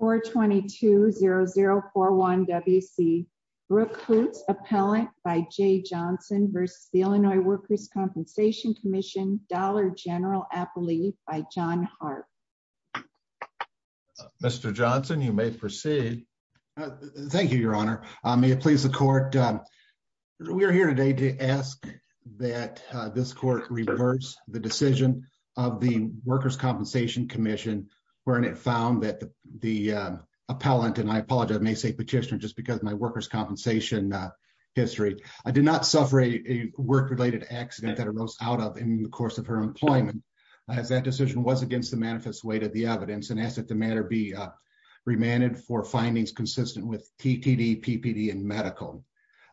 422-0041-WC. Brooke Hoots, Appellant by Jay Johnson v. Illinois Workers' Compensation Comm'n, Dollar General Appellee by John Hart. Mr. Johnson, you may proceed. Thank you, Your Honor. May it please the Court, we are here today to ask that this Court reverse the decision of the Workers' Compensation Commission wherein it found that the Appellant, and I apologize, I may say Petitioner just because of my Workers' Compensation history, did not suffer a work-related accident that arose out of in the course of her employment as that decision was against the manifest weight of the evidence and ask that the matter be remanded for findings consistent with TTD, PPD, and medical.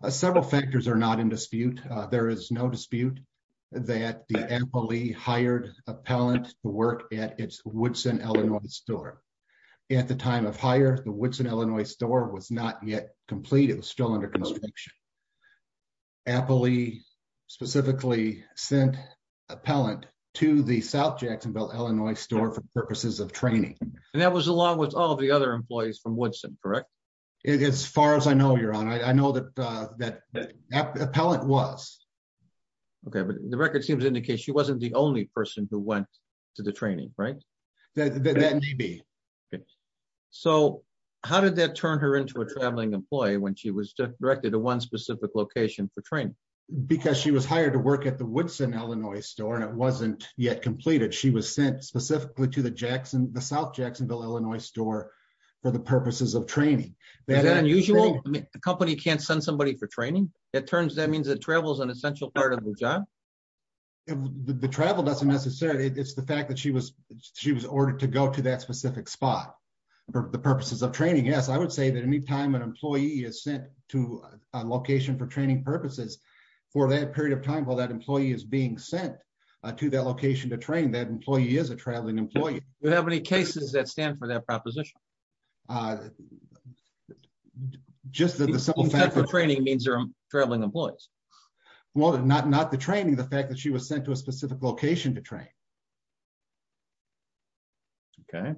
Several factors are not in dispute. There is no dispute that the Appellee hired Appellant to work at its Woodson, Illinois store. At the time of hire, the Woodson, Illinois store was not yet complete. It was still under construction. Appellee specifically sent Appellant to the South Jacksonville, Illinois store for purposes of training. And that was along with all the other employees from Woodson, correct? As far as I know, Your Honor, I know that Appellant was. Okay, but the record seems to indicate she wasn't the only person who went to the training, right? That may be. So how did that turn her into a traveling employee when she was directed to one specific location for training? Because she was hired to work at the Woodson, Illinois store and it wasn't yet completed. She was sent specifically to the South Jacksonville, Illinois store for the purposes of training. Is that unusual? A company can't send somebody for training? It turns that means that travel is an essential part of the job? The travel doesn't necessarily. It's the fact that she was ordered to go to that specific spot for the purposes of training. Yes, I would say that any time an employee is sent to a location for training purposes, for that period of time while that employee is being sent to that location to train, that employee is a traveling employee. Do you have any cases that stand for that proposition? Just that the simple fact that training means they're traveling employees. Well, not the training, the fact that she was sent to a specific location to train. Okay.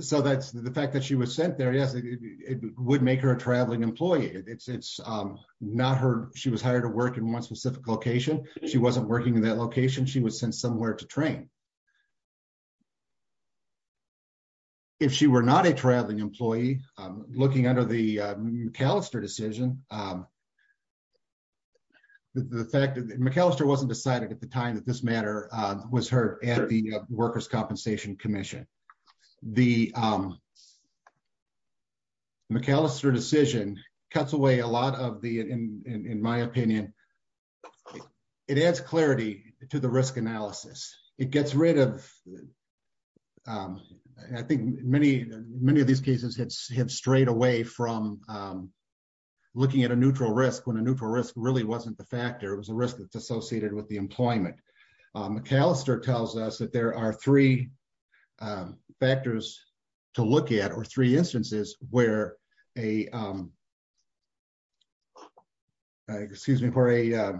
So that's the fact that she was sent there. Yes, it would make her a traveling employee. It's not her. She was hired to work in one specific location. She wasn't working in that location. She was sent somewhere to train. If she were not a traveling employee, looking under the McAllister decision, the fact that McAllister wasn't decided at the time that this matter was heard at the workers' compensation commission. The McAllister decision cuts away a lot of the, in my opinion, it adds clarity to the risk analysis. It gets rid of, I think many of these cases have strayed away from looking at a neutral risk when a neutral risk really wasn't the factor. It was a risk that's associated with the employment. McAllister tells us that there are three factors to look at or three instances where a, excuse me, where a, there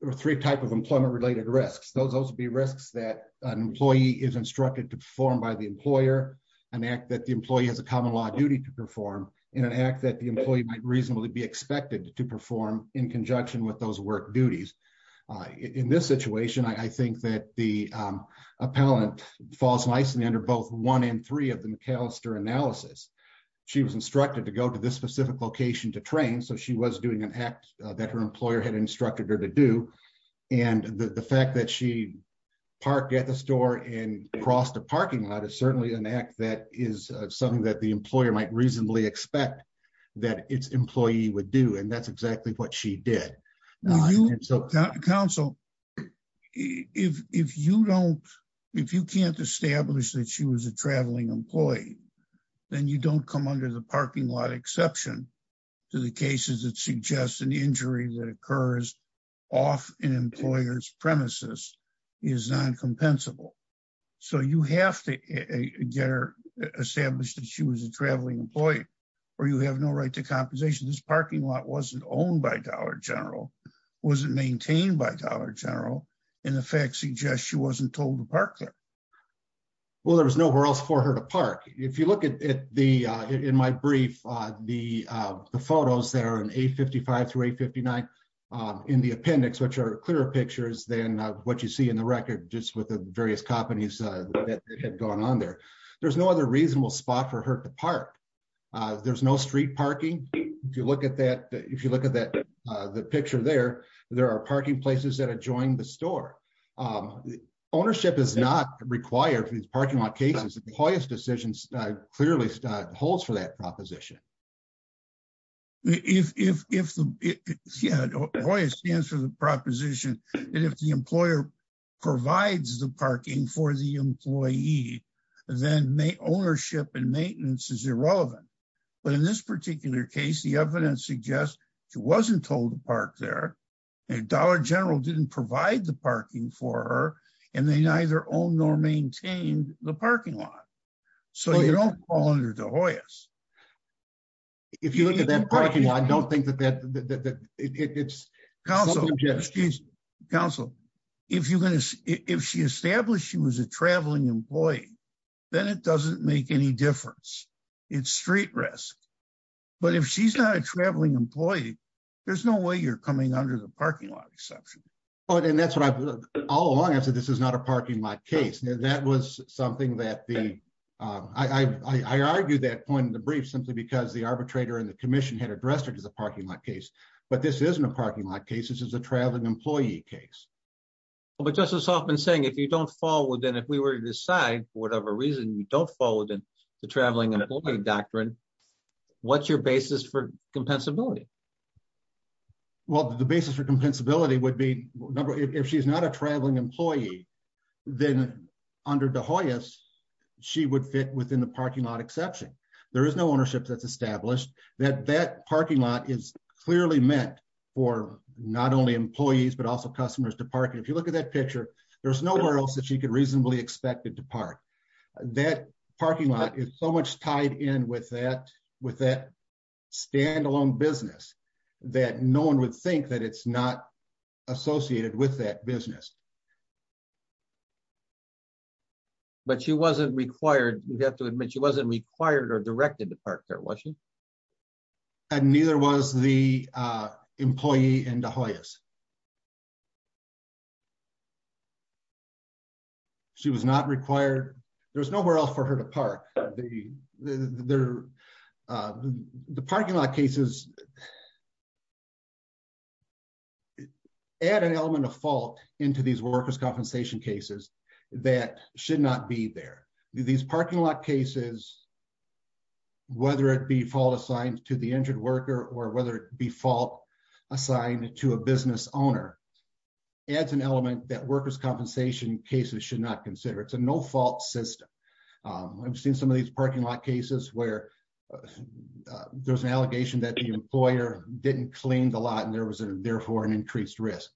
were three types of employment related risks. Those would be risks that an employee is instructed to perform by the employer, an act that the employee has a common law duty to perform in an act that the employee might reasonably be expected to perform in conjunction with those work duties. In this situation, I think that the appellant falls nicely under both one and three of the McAllister analysis. She was instructed to go to this specific location to train. So she was doing an act that her employer had instructed her to do. And the fact that she parked at the and crossed the parking lot is certainly an act that is something that the employer might reasonably expect that its employee would do. And that's exactly what she did. Counsel, if you don't, if you can't establish that she was a traveling employee, then you don't come under the parking lot exception to the cases that suggest an injury that occurs off an employer's premises is non-compensable. So you have to get her established that she was a traveling employee, or you have no right to compensation. This parking lot wasn't owned by Dollar General, wasn't maintained by Dollar General, and the facts suggest she wasn't told to park there. Well, there was nowhere else for her to park. If you look at the, in my brief, the photos that are in 855 through 859 in the appendix, which are clearer pictures than what you see in the record, just with the various companies that had gone on there, there's no other reasonable spot for her to park. There's no street parking. If you look at that, if you look at that, the picture there, there are parking places that are joined the store. Ownership is not required for these parking lot cases. The Hoyas decision clearly holds for that proposition. Yeah, Hoyas stands for the proposition that if the employer provides the parking for the employee, then ownership and maintenance is irrelevant. But in this particular case, the evidence suggests she wasn't told to park there, and Dollar General didn't provide the parking for her, and they neither owned nor maintained the parking lot. So you don't fall under the Hoyas. If you look at that parking lot, I don't think that that, that it's... Counsel, excuse me, Counsel, if you're going to, if she established she was a traveling employee, then it doesn't make any difference. It's street risk. But if she's not a traveling employee, there's no way you're coming under the parking lot exception. Oh, and that's what I've, all along I've said this is not a parking lot case. That was something that the, I argued that point in the brief simply because the arbitrator and the commission had addressed it as a parking lot case. But this isn't a parking lot case, this is a traveling employee case. But Justice Hoffman's saying if you don't fall within, if we were to decide for whatever reason you don't fall within the traveling employee doctrine, what's your basis for compensability would be, if she's not a traveling employee, then under the Hoyas, she would fit within the parking lot exception. There is no ownership that's established that that parking lot is clearly meant for not only employees, but also customers to park. If you look at that picture, there's nowhere else that she could reasonably expect it to park. That parking lot is so much tied in with that, with that standalone business, that no one would think that it's not associated with that business. But she wasn't required, we have to admit she wasn't required or directed to park there, was she? And neither was the employee in the Hoyas. She was not required, there was nowhere else for her to park. The parking lot cases, they add an element of fault into these workers' compensation cases that should not be there. These parking lot cases, whether it be fault assigned to the injured worker or whether it be fault assigned to a business owner, adds an element that workers' compensation cases should not consider. It's a no fault system. I've seen some of these parking lot cases where there's an didn't clean the lot and there was a therefore an increased risk.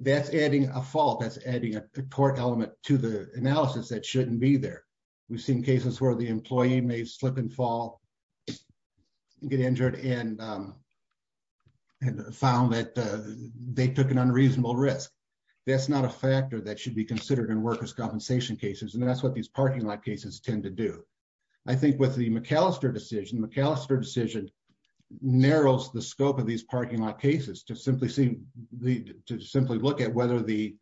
That's adding a fault, that's adding a torque element to the analysis that shouldn't be there. We've seen cases where the employee may slip and fall, get injured and found that they took an unreasonable risk. That's not a factor that should be considered in workers' compensation cases and that's what these parking lot cases tend to do. I think with the McAllister decision, the McAllister decision narrows the scope of these parking lot cases to simply look at whether the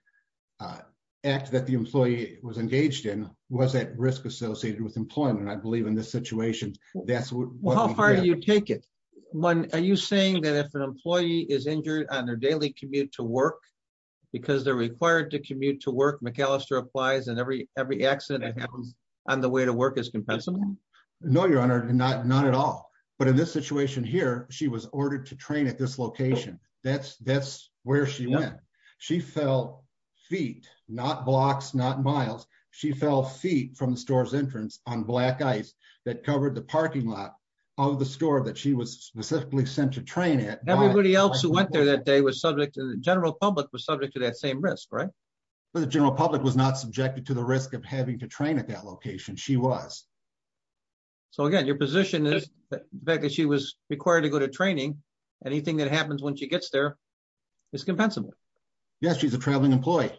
act that the employee was engaged in was at risk associated with employment. I believe in this situation, that's what... How far do you take it? Are you saying that if an employee is injured on their daily commute to work because they're required to commute to work, McAllister applies and every accident that happens on the way to work is compensable? No, your honor, not at all. But in this situation here, she was ordered to train at this location. That's where she went. She fell feet, not blocks, not miles. She fell feet from the store's entrance on black ice that covered the parking lot of the store that she was specifically sent to train at. Everybody else who went there that day was subject to... the general public was subject to that same risk, right? The general public was not subjected to the risk of having to train at that location. She was. So again, your position is the fact that she was required to go to training, anything that happens when she gets there is compensable. Yes, she's a traveling employee.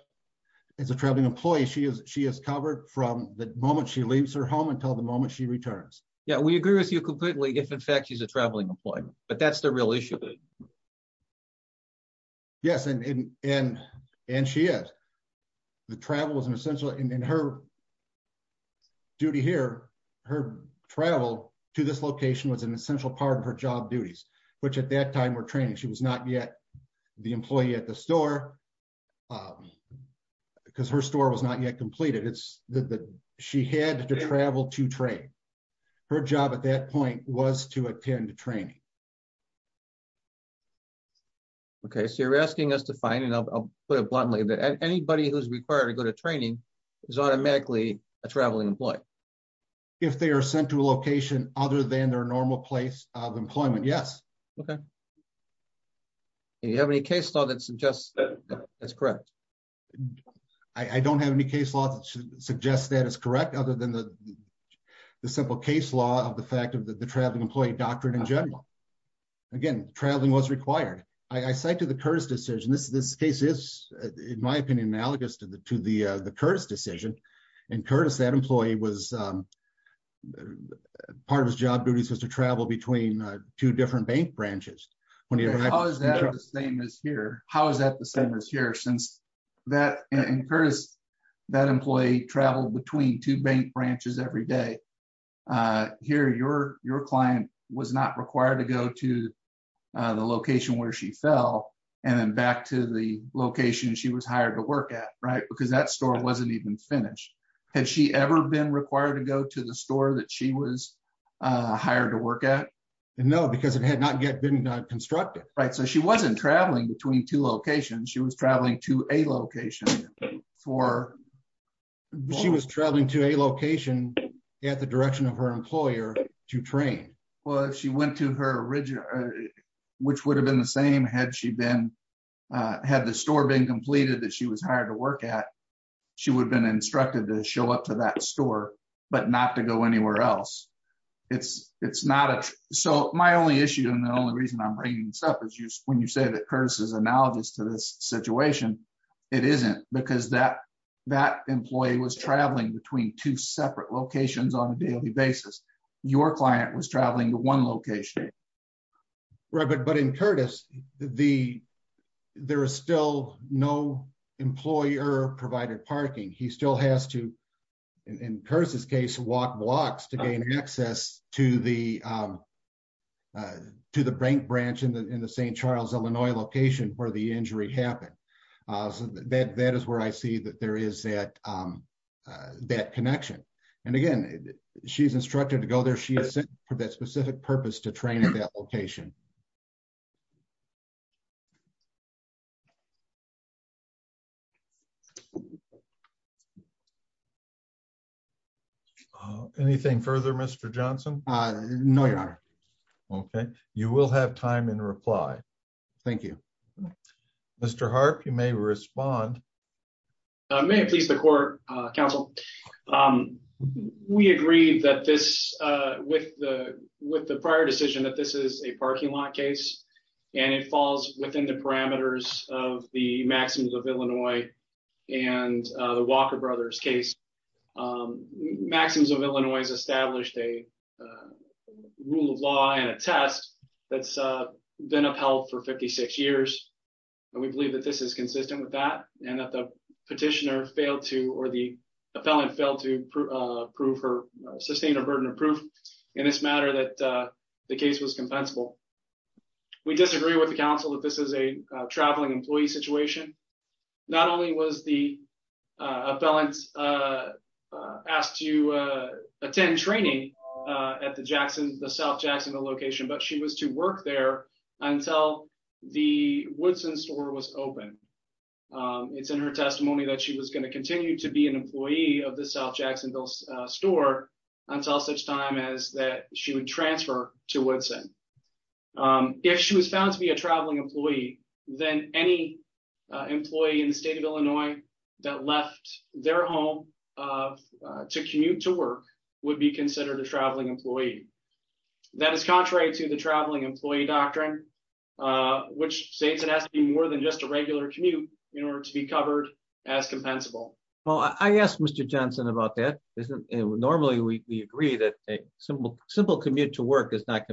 As a traveling employee, she is covered from the moment she leaves her home until the moment she returns. Yeah, we agree with you completely if in fact she's a traveling employee, but that's a real issue. Yes, and she is. The travel was an essential... and her duty here, her travel to this location was an essential part of her job duties, which at that time were training. She was not yet the employee at the store because her store was not yet completed. She had to travel to train. Her job at that point was to attend training. Okay, so you're asking us to find, and I'll put it bluntly, that anybody who's required to go to training is automatically a traveling employee. If they are sent to a location other than their normal place of employment, yes. Okay. Do you have any case law that suggests that that's correct? I don't have any case law that suggests that is correct other than the simple case law of the fact of the traveling employee doctrine in general. Again, traveling was required. I cite to the Curtis decision. This case is, in my opinion, analogous to the Curtis decision, and Curtis, that employee was... part of his job duties was to travel between two different bank branches. How is that the same as here? How is that the same as here since that, and Curtis, that employee traveled between two bank branches every day. Here, your client was not required to go to the location where she fell and then back to the location she was hired to work at, right? Because that store wasn't even finished. Had she ever been required to go to the store that she was constructed, right? So, she wasn't traveling between two locations. She was traveling to a location for... She was traveling to a location at the direction of her employer to train. Well, if she went to her original, which would have been the same had the store been completed that she was hired to work at, she would have been instructed to show up to that store, but not to go anywhere else. It's not a... So, my only issue and the only reason I'm bringing this up is when you say that Curtis is analogous to this situation, it isn't because that employee was traveling between two separate locations on a daily basis. Your client was traveling to one location. Right, but in Curtis, there is still no employer-provided parking. He still has to, in Curtis's case, walk blocks to gain access to the bank branch in the St. Charles, Illinois location where the injury happened. So, that is where I see that there is that connection. And again, she's instructed to go there. She is sent for that specific purpose to train at that location. Anything further, Mr. Johnson? No, Your Honor. Okay. You will have time in reply. Thank you. Mr. Harp, you may respond. May it please the court, counsel. We agreed that this, with the prior decision that this is a parking lot case, and it falls within the parameters of the Maxims of Illinois and the Maxims of Illinois has established a rule of law and a test that's been upheld for 56 years. And we believe that this is consistent with that and that the petitioner failed to, or the appellant failed to prove her, sustain a burden of proof in this matter that the case was compensable. We disagree with the counsel that this is a traveling employee situation. Not only was the appellant asked to attend training at the Jackson, the South Jacksonville location, but she was to work there until the Woodson store was open. It's in her testimony that she was going to continue to be an employee of the South Jacksonville store until such time as that she would transfer to Woodson. If she was found to be a traveling employee, then any employee in the state of Illinois that left their home to commute to work would be considered a traveling employee. That is contrary to the traveling employee doctrine, which states it has to be more than just a regular commute in order to be covered as compensable. Well, I asked Mr. Johnson about that. Normally we agree that a simple commute to work is not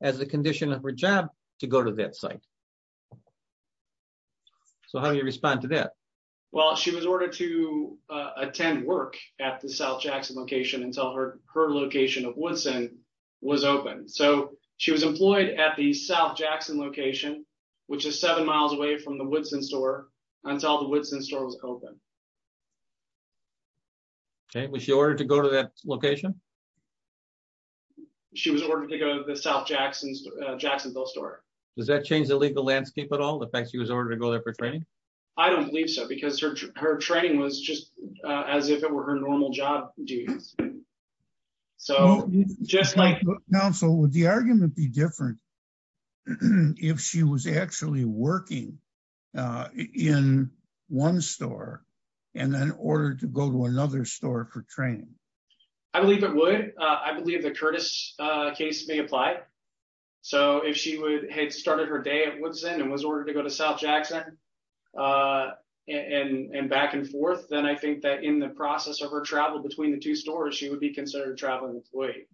as the condition of her job to go to that site. So how do you respond to that? Well, she was ordered to attend work at the South Jackson location until her location of Woodson was open. So she was employed at the South Jackson location, which is seven miles away from the Woodson store until the Woodson store was open. Okay, was she ordered to go to that location? She was ordered to go to the South Jackson store. Does that change the legal landscape at all? The fact she was ordered to go there for training? I don't believe so because her training was just as if it were her normal job duties. Now, so would the argument be different if she was actually working in one store and then ordered to go to another store for training? I believe it would. I believe the Curtis case may apply. So if she had started her day at Woodson and was ordered to go to South Jackson and back and forth, then I think that in the process of her travel between the two stores, she would be considered a traveling employee.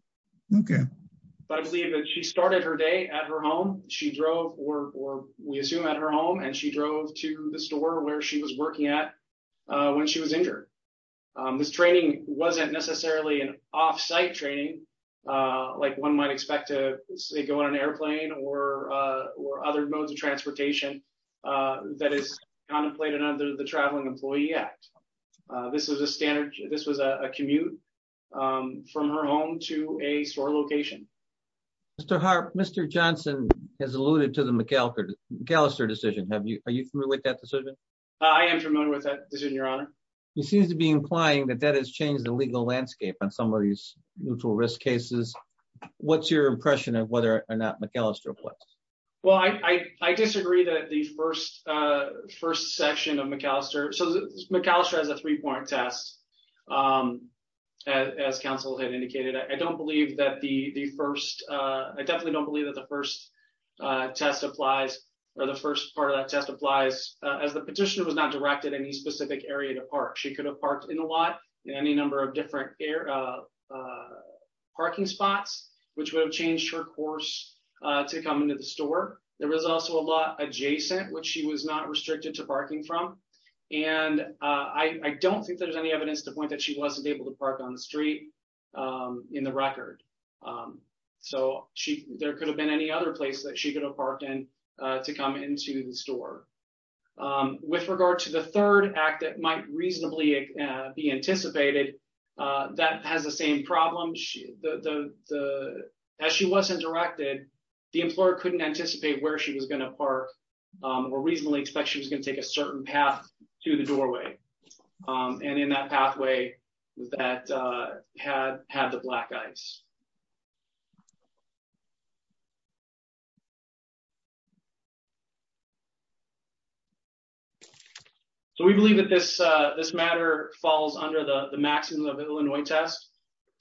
But I believe that she started her day at her home. She drove or we assume at her home and she drove to the store where she was working at when she was injured. This training wasn't necessarily an off-site training like one might expect to go on an airplane or other modes of transportation that is contemplated under the Traveling Employee Act. This was a commute from her home to a store location. Mr. Harp, Mr. Johnson has alluded to the McAllister decision. Are you familiar with that decision? I am familiar with that decision, Your Honor. He seems to be implying that that has changed the legal landscape on some of these mutual risk cases. What's your impression of whether or not McAllister applies? Well, I disagree that the first section of McAllister, so McAllister has a three-point test. As counsel had indicated, I don't believe that the first, I definitely don't believe that the first test applies or the first part of that test applies as the petitioner was not directed any specific area to park. She could have parked in a lot in any number of different parking spots which would have changed her course to come into the store. There was also a lot adjacent which she was not restricted to parking from. And I don't think there's any evidence to point that she wasn't able to park on the street in the record. So, there could have been any other place that she could have parked in to come into the store. With regard to the third act that might reasonably be anticipated, that has the same problem. As she wasn't directed, the employer couldn't anticipate where she was going to park or reasonably expect she was going to take a certain path to the doorway. And in that pathway that had the black ice. So, we believe that this matter falls under the maximum of Illinois test.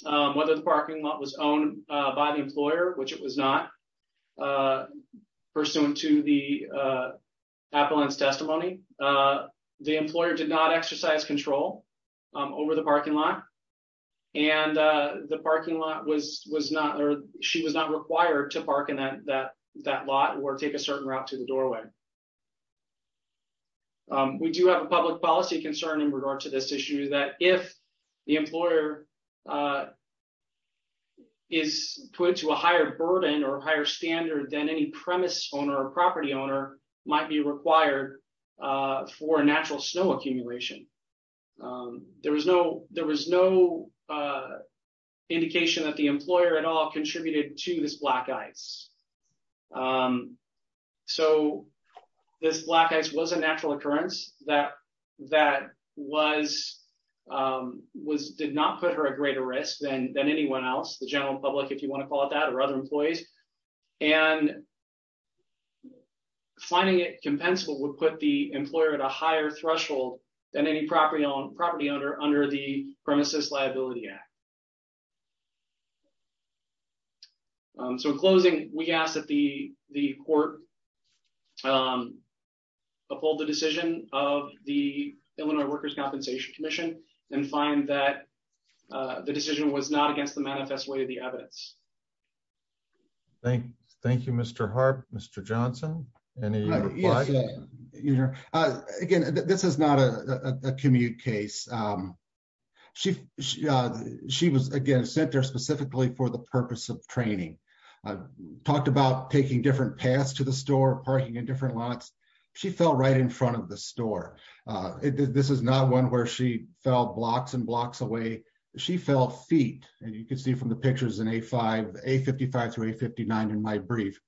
Whether the parking lot was owned by the employer, which it was not, pursuant to the appellant's testimony. The employer did not exercise control over the parking lot. And the parking lot was not or she was not required to park in that lot or take a certain route to the doorway. We do have a public policy concern in regard to this issue that if the employer is put to a higher burden or a higher standard than any premise owner or property owner might be required for natural snow accumulation. There was no indication that the employer at all contributed to this black ice. So, this black ice was a natural occurrence that did not put her at greater risk than anyone else, the general public, if you want to call it that, or other employees. And finding it compensable would put the employer at a higher threshold than any property owner under the Premises Liability Act. So, in closing, we ask that the court uphold the decision of the Illinois Workers' Compensation Commission and find that the decision was not against the manifest way of the evidence. Thank you, Mr. Harp. Mr. Johnson, any reply? Again, this is not a commute case. She was, again, sent there specifically for the purpose of training. Talked about taking different paths to the store, parking in different lots. She fell right in front of the store. This is not one where she fell blocks and blocks away. She fell feet, and you can see from the pictures in A55 through A59 in my brief.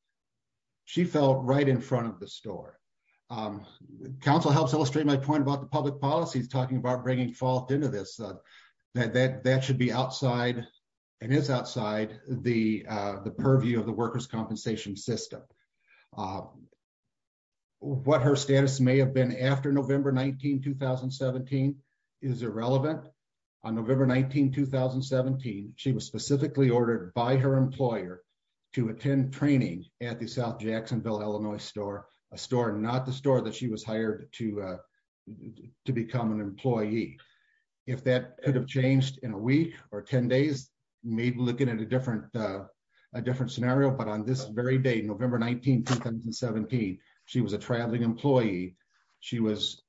She fell right in front of the store. Council helps illustrate my point about the public policies, talking about bringing fault into this. That should be outside and is outside the purview of the workers' compensation system. What her status may have been after November 19, 2017 is irrelevant. On November 19, 2017, she was specifically ordered by her employer to attend training at the South Jacksonville, Illinois store, a store not the store that she was hired to become an employee. If that could change in a week or 10 days, maybe looking at a different scenario. But on this very date, November 19, 2017, she was a traveling employee. She was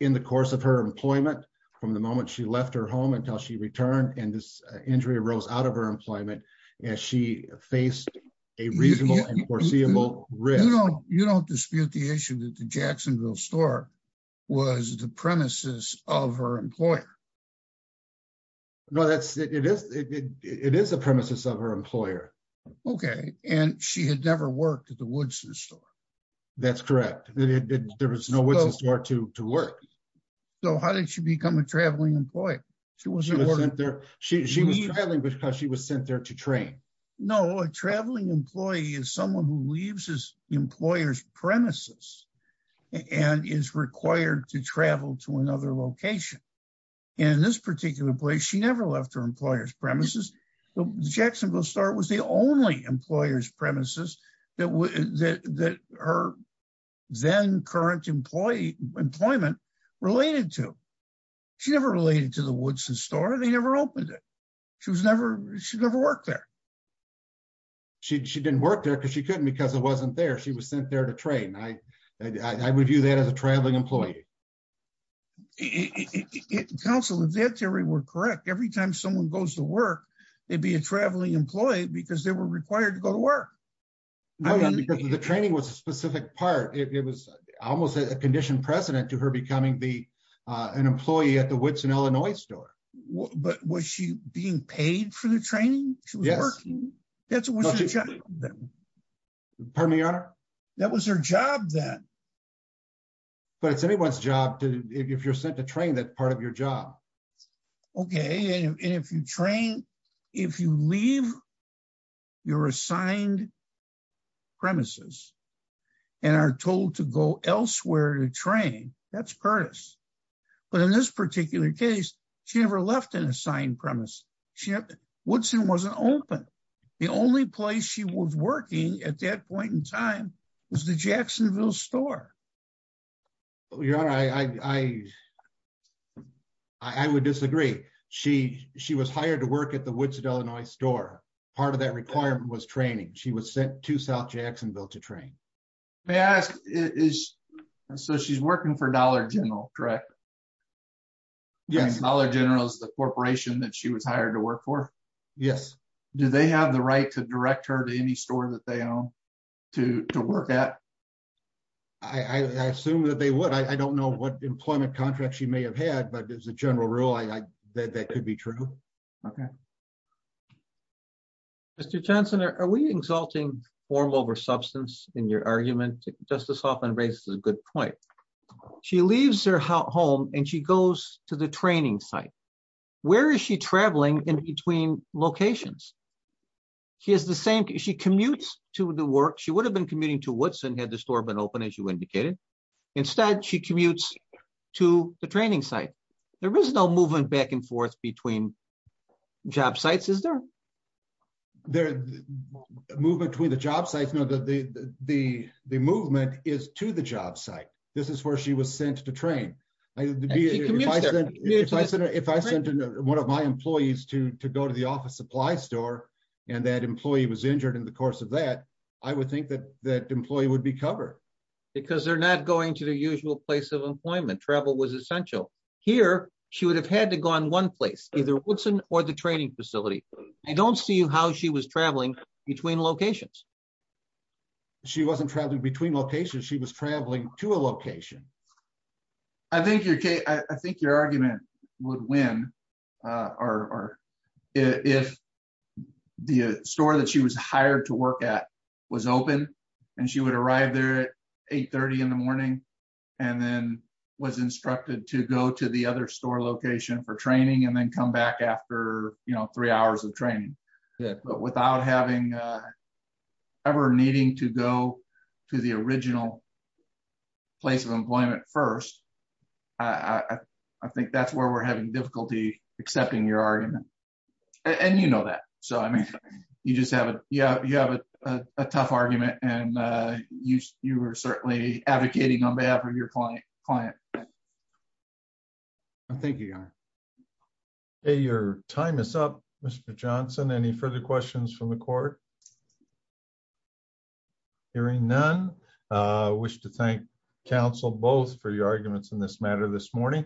in the course of her employment from the moment she left her home until she returned, and this injury arose out of her employment as she faced a reasonable and foreseeable risk. You don't dispute the issue that the Jacksonville store was the premises of her employer. No, it is a premises of her employer. Okay. And she had never worked at the Woodson store. That's correct. There was no Woodson store to work. So how did she become a traveling employee? She was sent there. She was traveling because she was sent there to train. No, a traveling employee is someone who premises and is required to travel to another location. And in this particular place, she never left her employer's premises. The Jacksonville store was the only employer's premises that her then current employment related to. She never related to the Woodson store. They never opened it. She never worked there. She didn't work there because she couldn't because she was sent there to train. I would view that as a traveling employee. Counsel, if that theory were correct, every time someone goes to work, they'd be a traveling employee because they were required to go to work. The training was a specific part. It was almost a conditioned precedent to her becoming an employee at the Woodson, Illinois store. But was she being paid for the training? She was working. That was her job then. But it's anyone's job if you're sent to train, that's part of your job. Okay. And if you train, if you leave your assigned premises and are told to go elsewhere to train, that's Curtis. But in this open, the only place she was working at that point in time was the Jacksonville store. I would disagree. She was hired to work at the Woodson, Illinois store. Part of that requirement was training. She was sent to South Jacksonville to train. So she's working for Dollar General, correct? Yes. Dollar General is the corporation that she was hired to work for? Yes. Do they have the right to direct her to any store that they own to work at? I assume that they would. I don't know what employment contracts she may have had, but as a general rule, that could be true. Okay. Mr. Johnson, are we exalting form over substance in your argument? Justice Hoffman raises a good point. She leaves her home and goes to the training site. Where is she traveling in between locations? She commutes to the work. She would have been commuting to Woodson had the store been open, as you indicated. Instead, she commutes to the training site. There is no movement back and forth between job sites, is there? Movement between the job sites? No, the movement is to the job site. This is where she was sent to train. If I sent one of my employees to go to the office supply store and that employee was injured in the course of that, I would think that that employee would be covered. Because they're not going to the usual place of employment. Travel was essential. Here, she would have had to go in one place, either Woodson or the training facility. I don't see how she was traveling between locations. She wasn't traveling between locations. She was traveling to a location. I think your argument would win if the store that she was hired to work at was open and she would arrive there at 8.30 in the morning and then was instructed to go to the other store location for training and then come back after three hours of the training. I think that's where we're having difficulty accepting your argument. And you know that. You have a tough argument and you were certainly advocating on behalf of your client. Thank you, Your Honor. Your time is up, Mr. Johnson. Any further questions from the court? Hearing none, I wish to thank counsel both for your arguments in this matter this morning.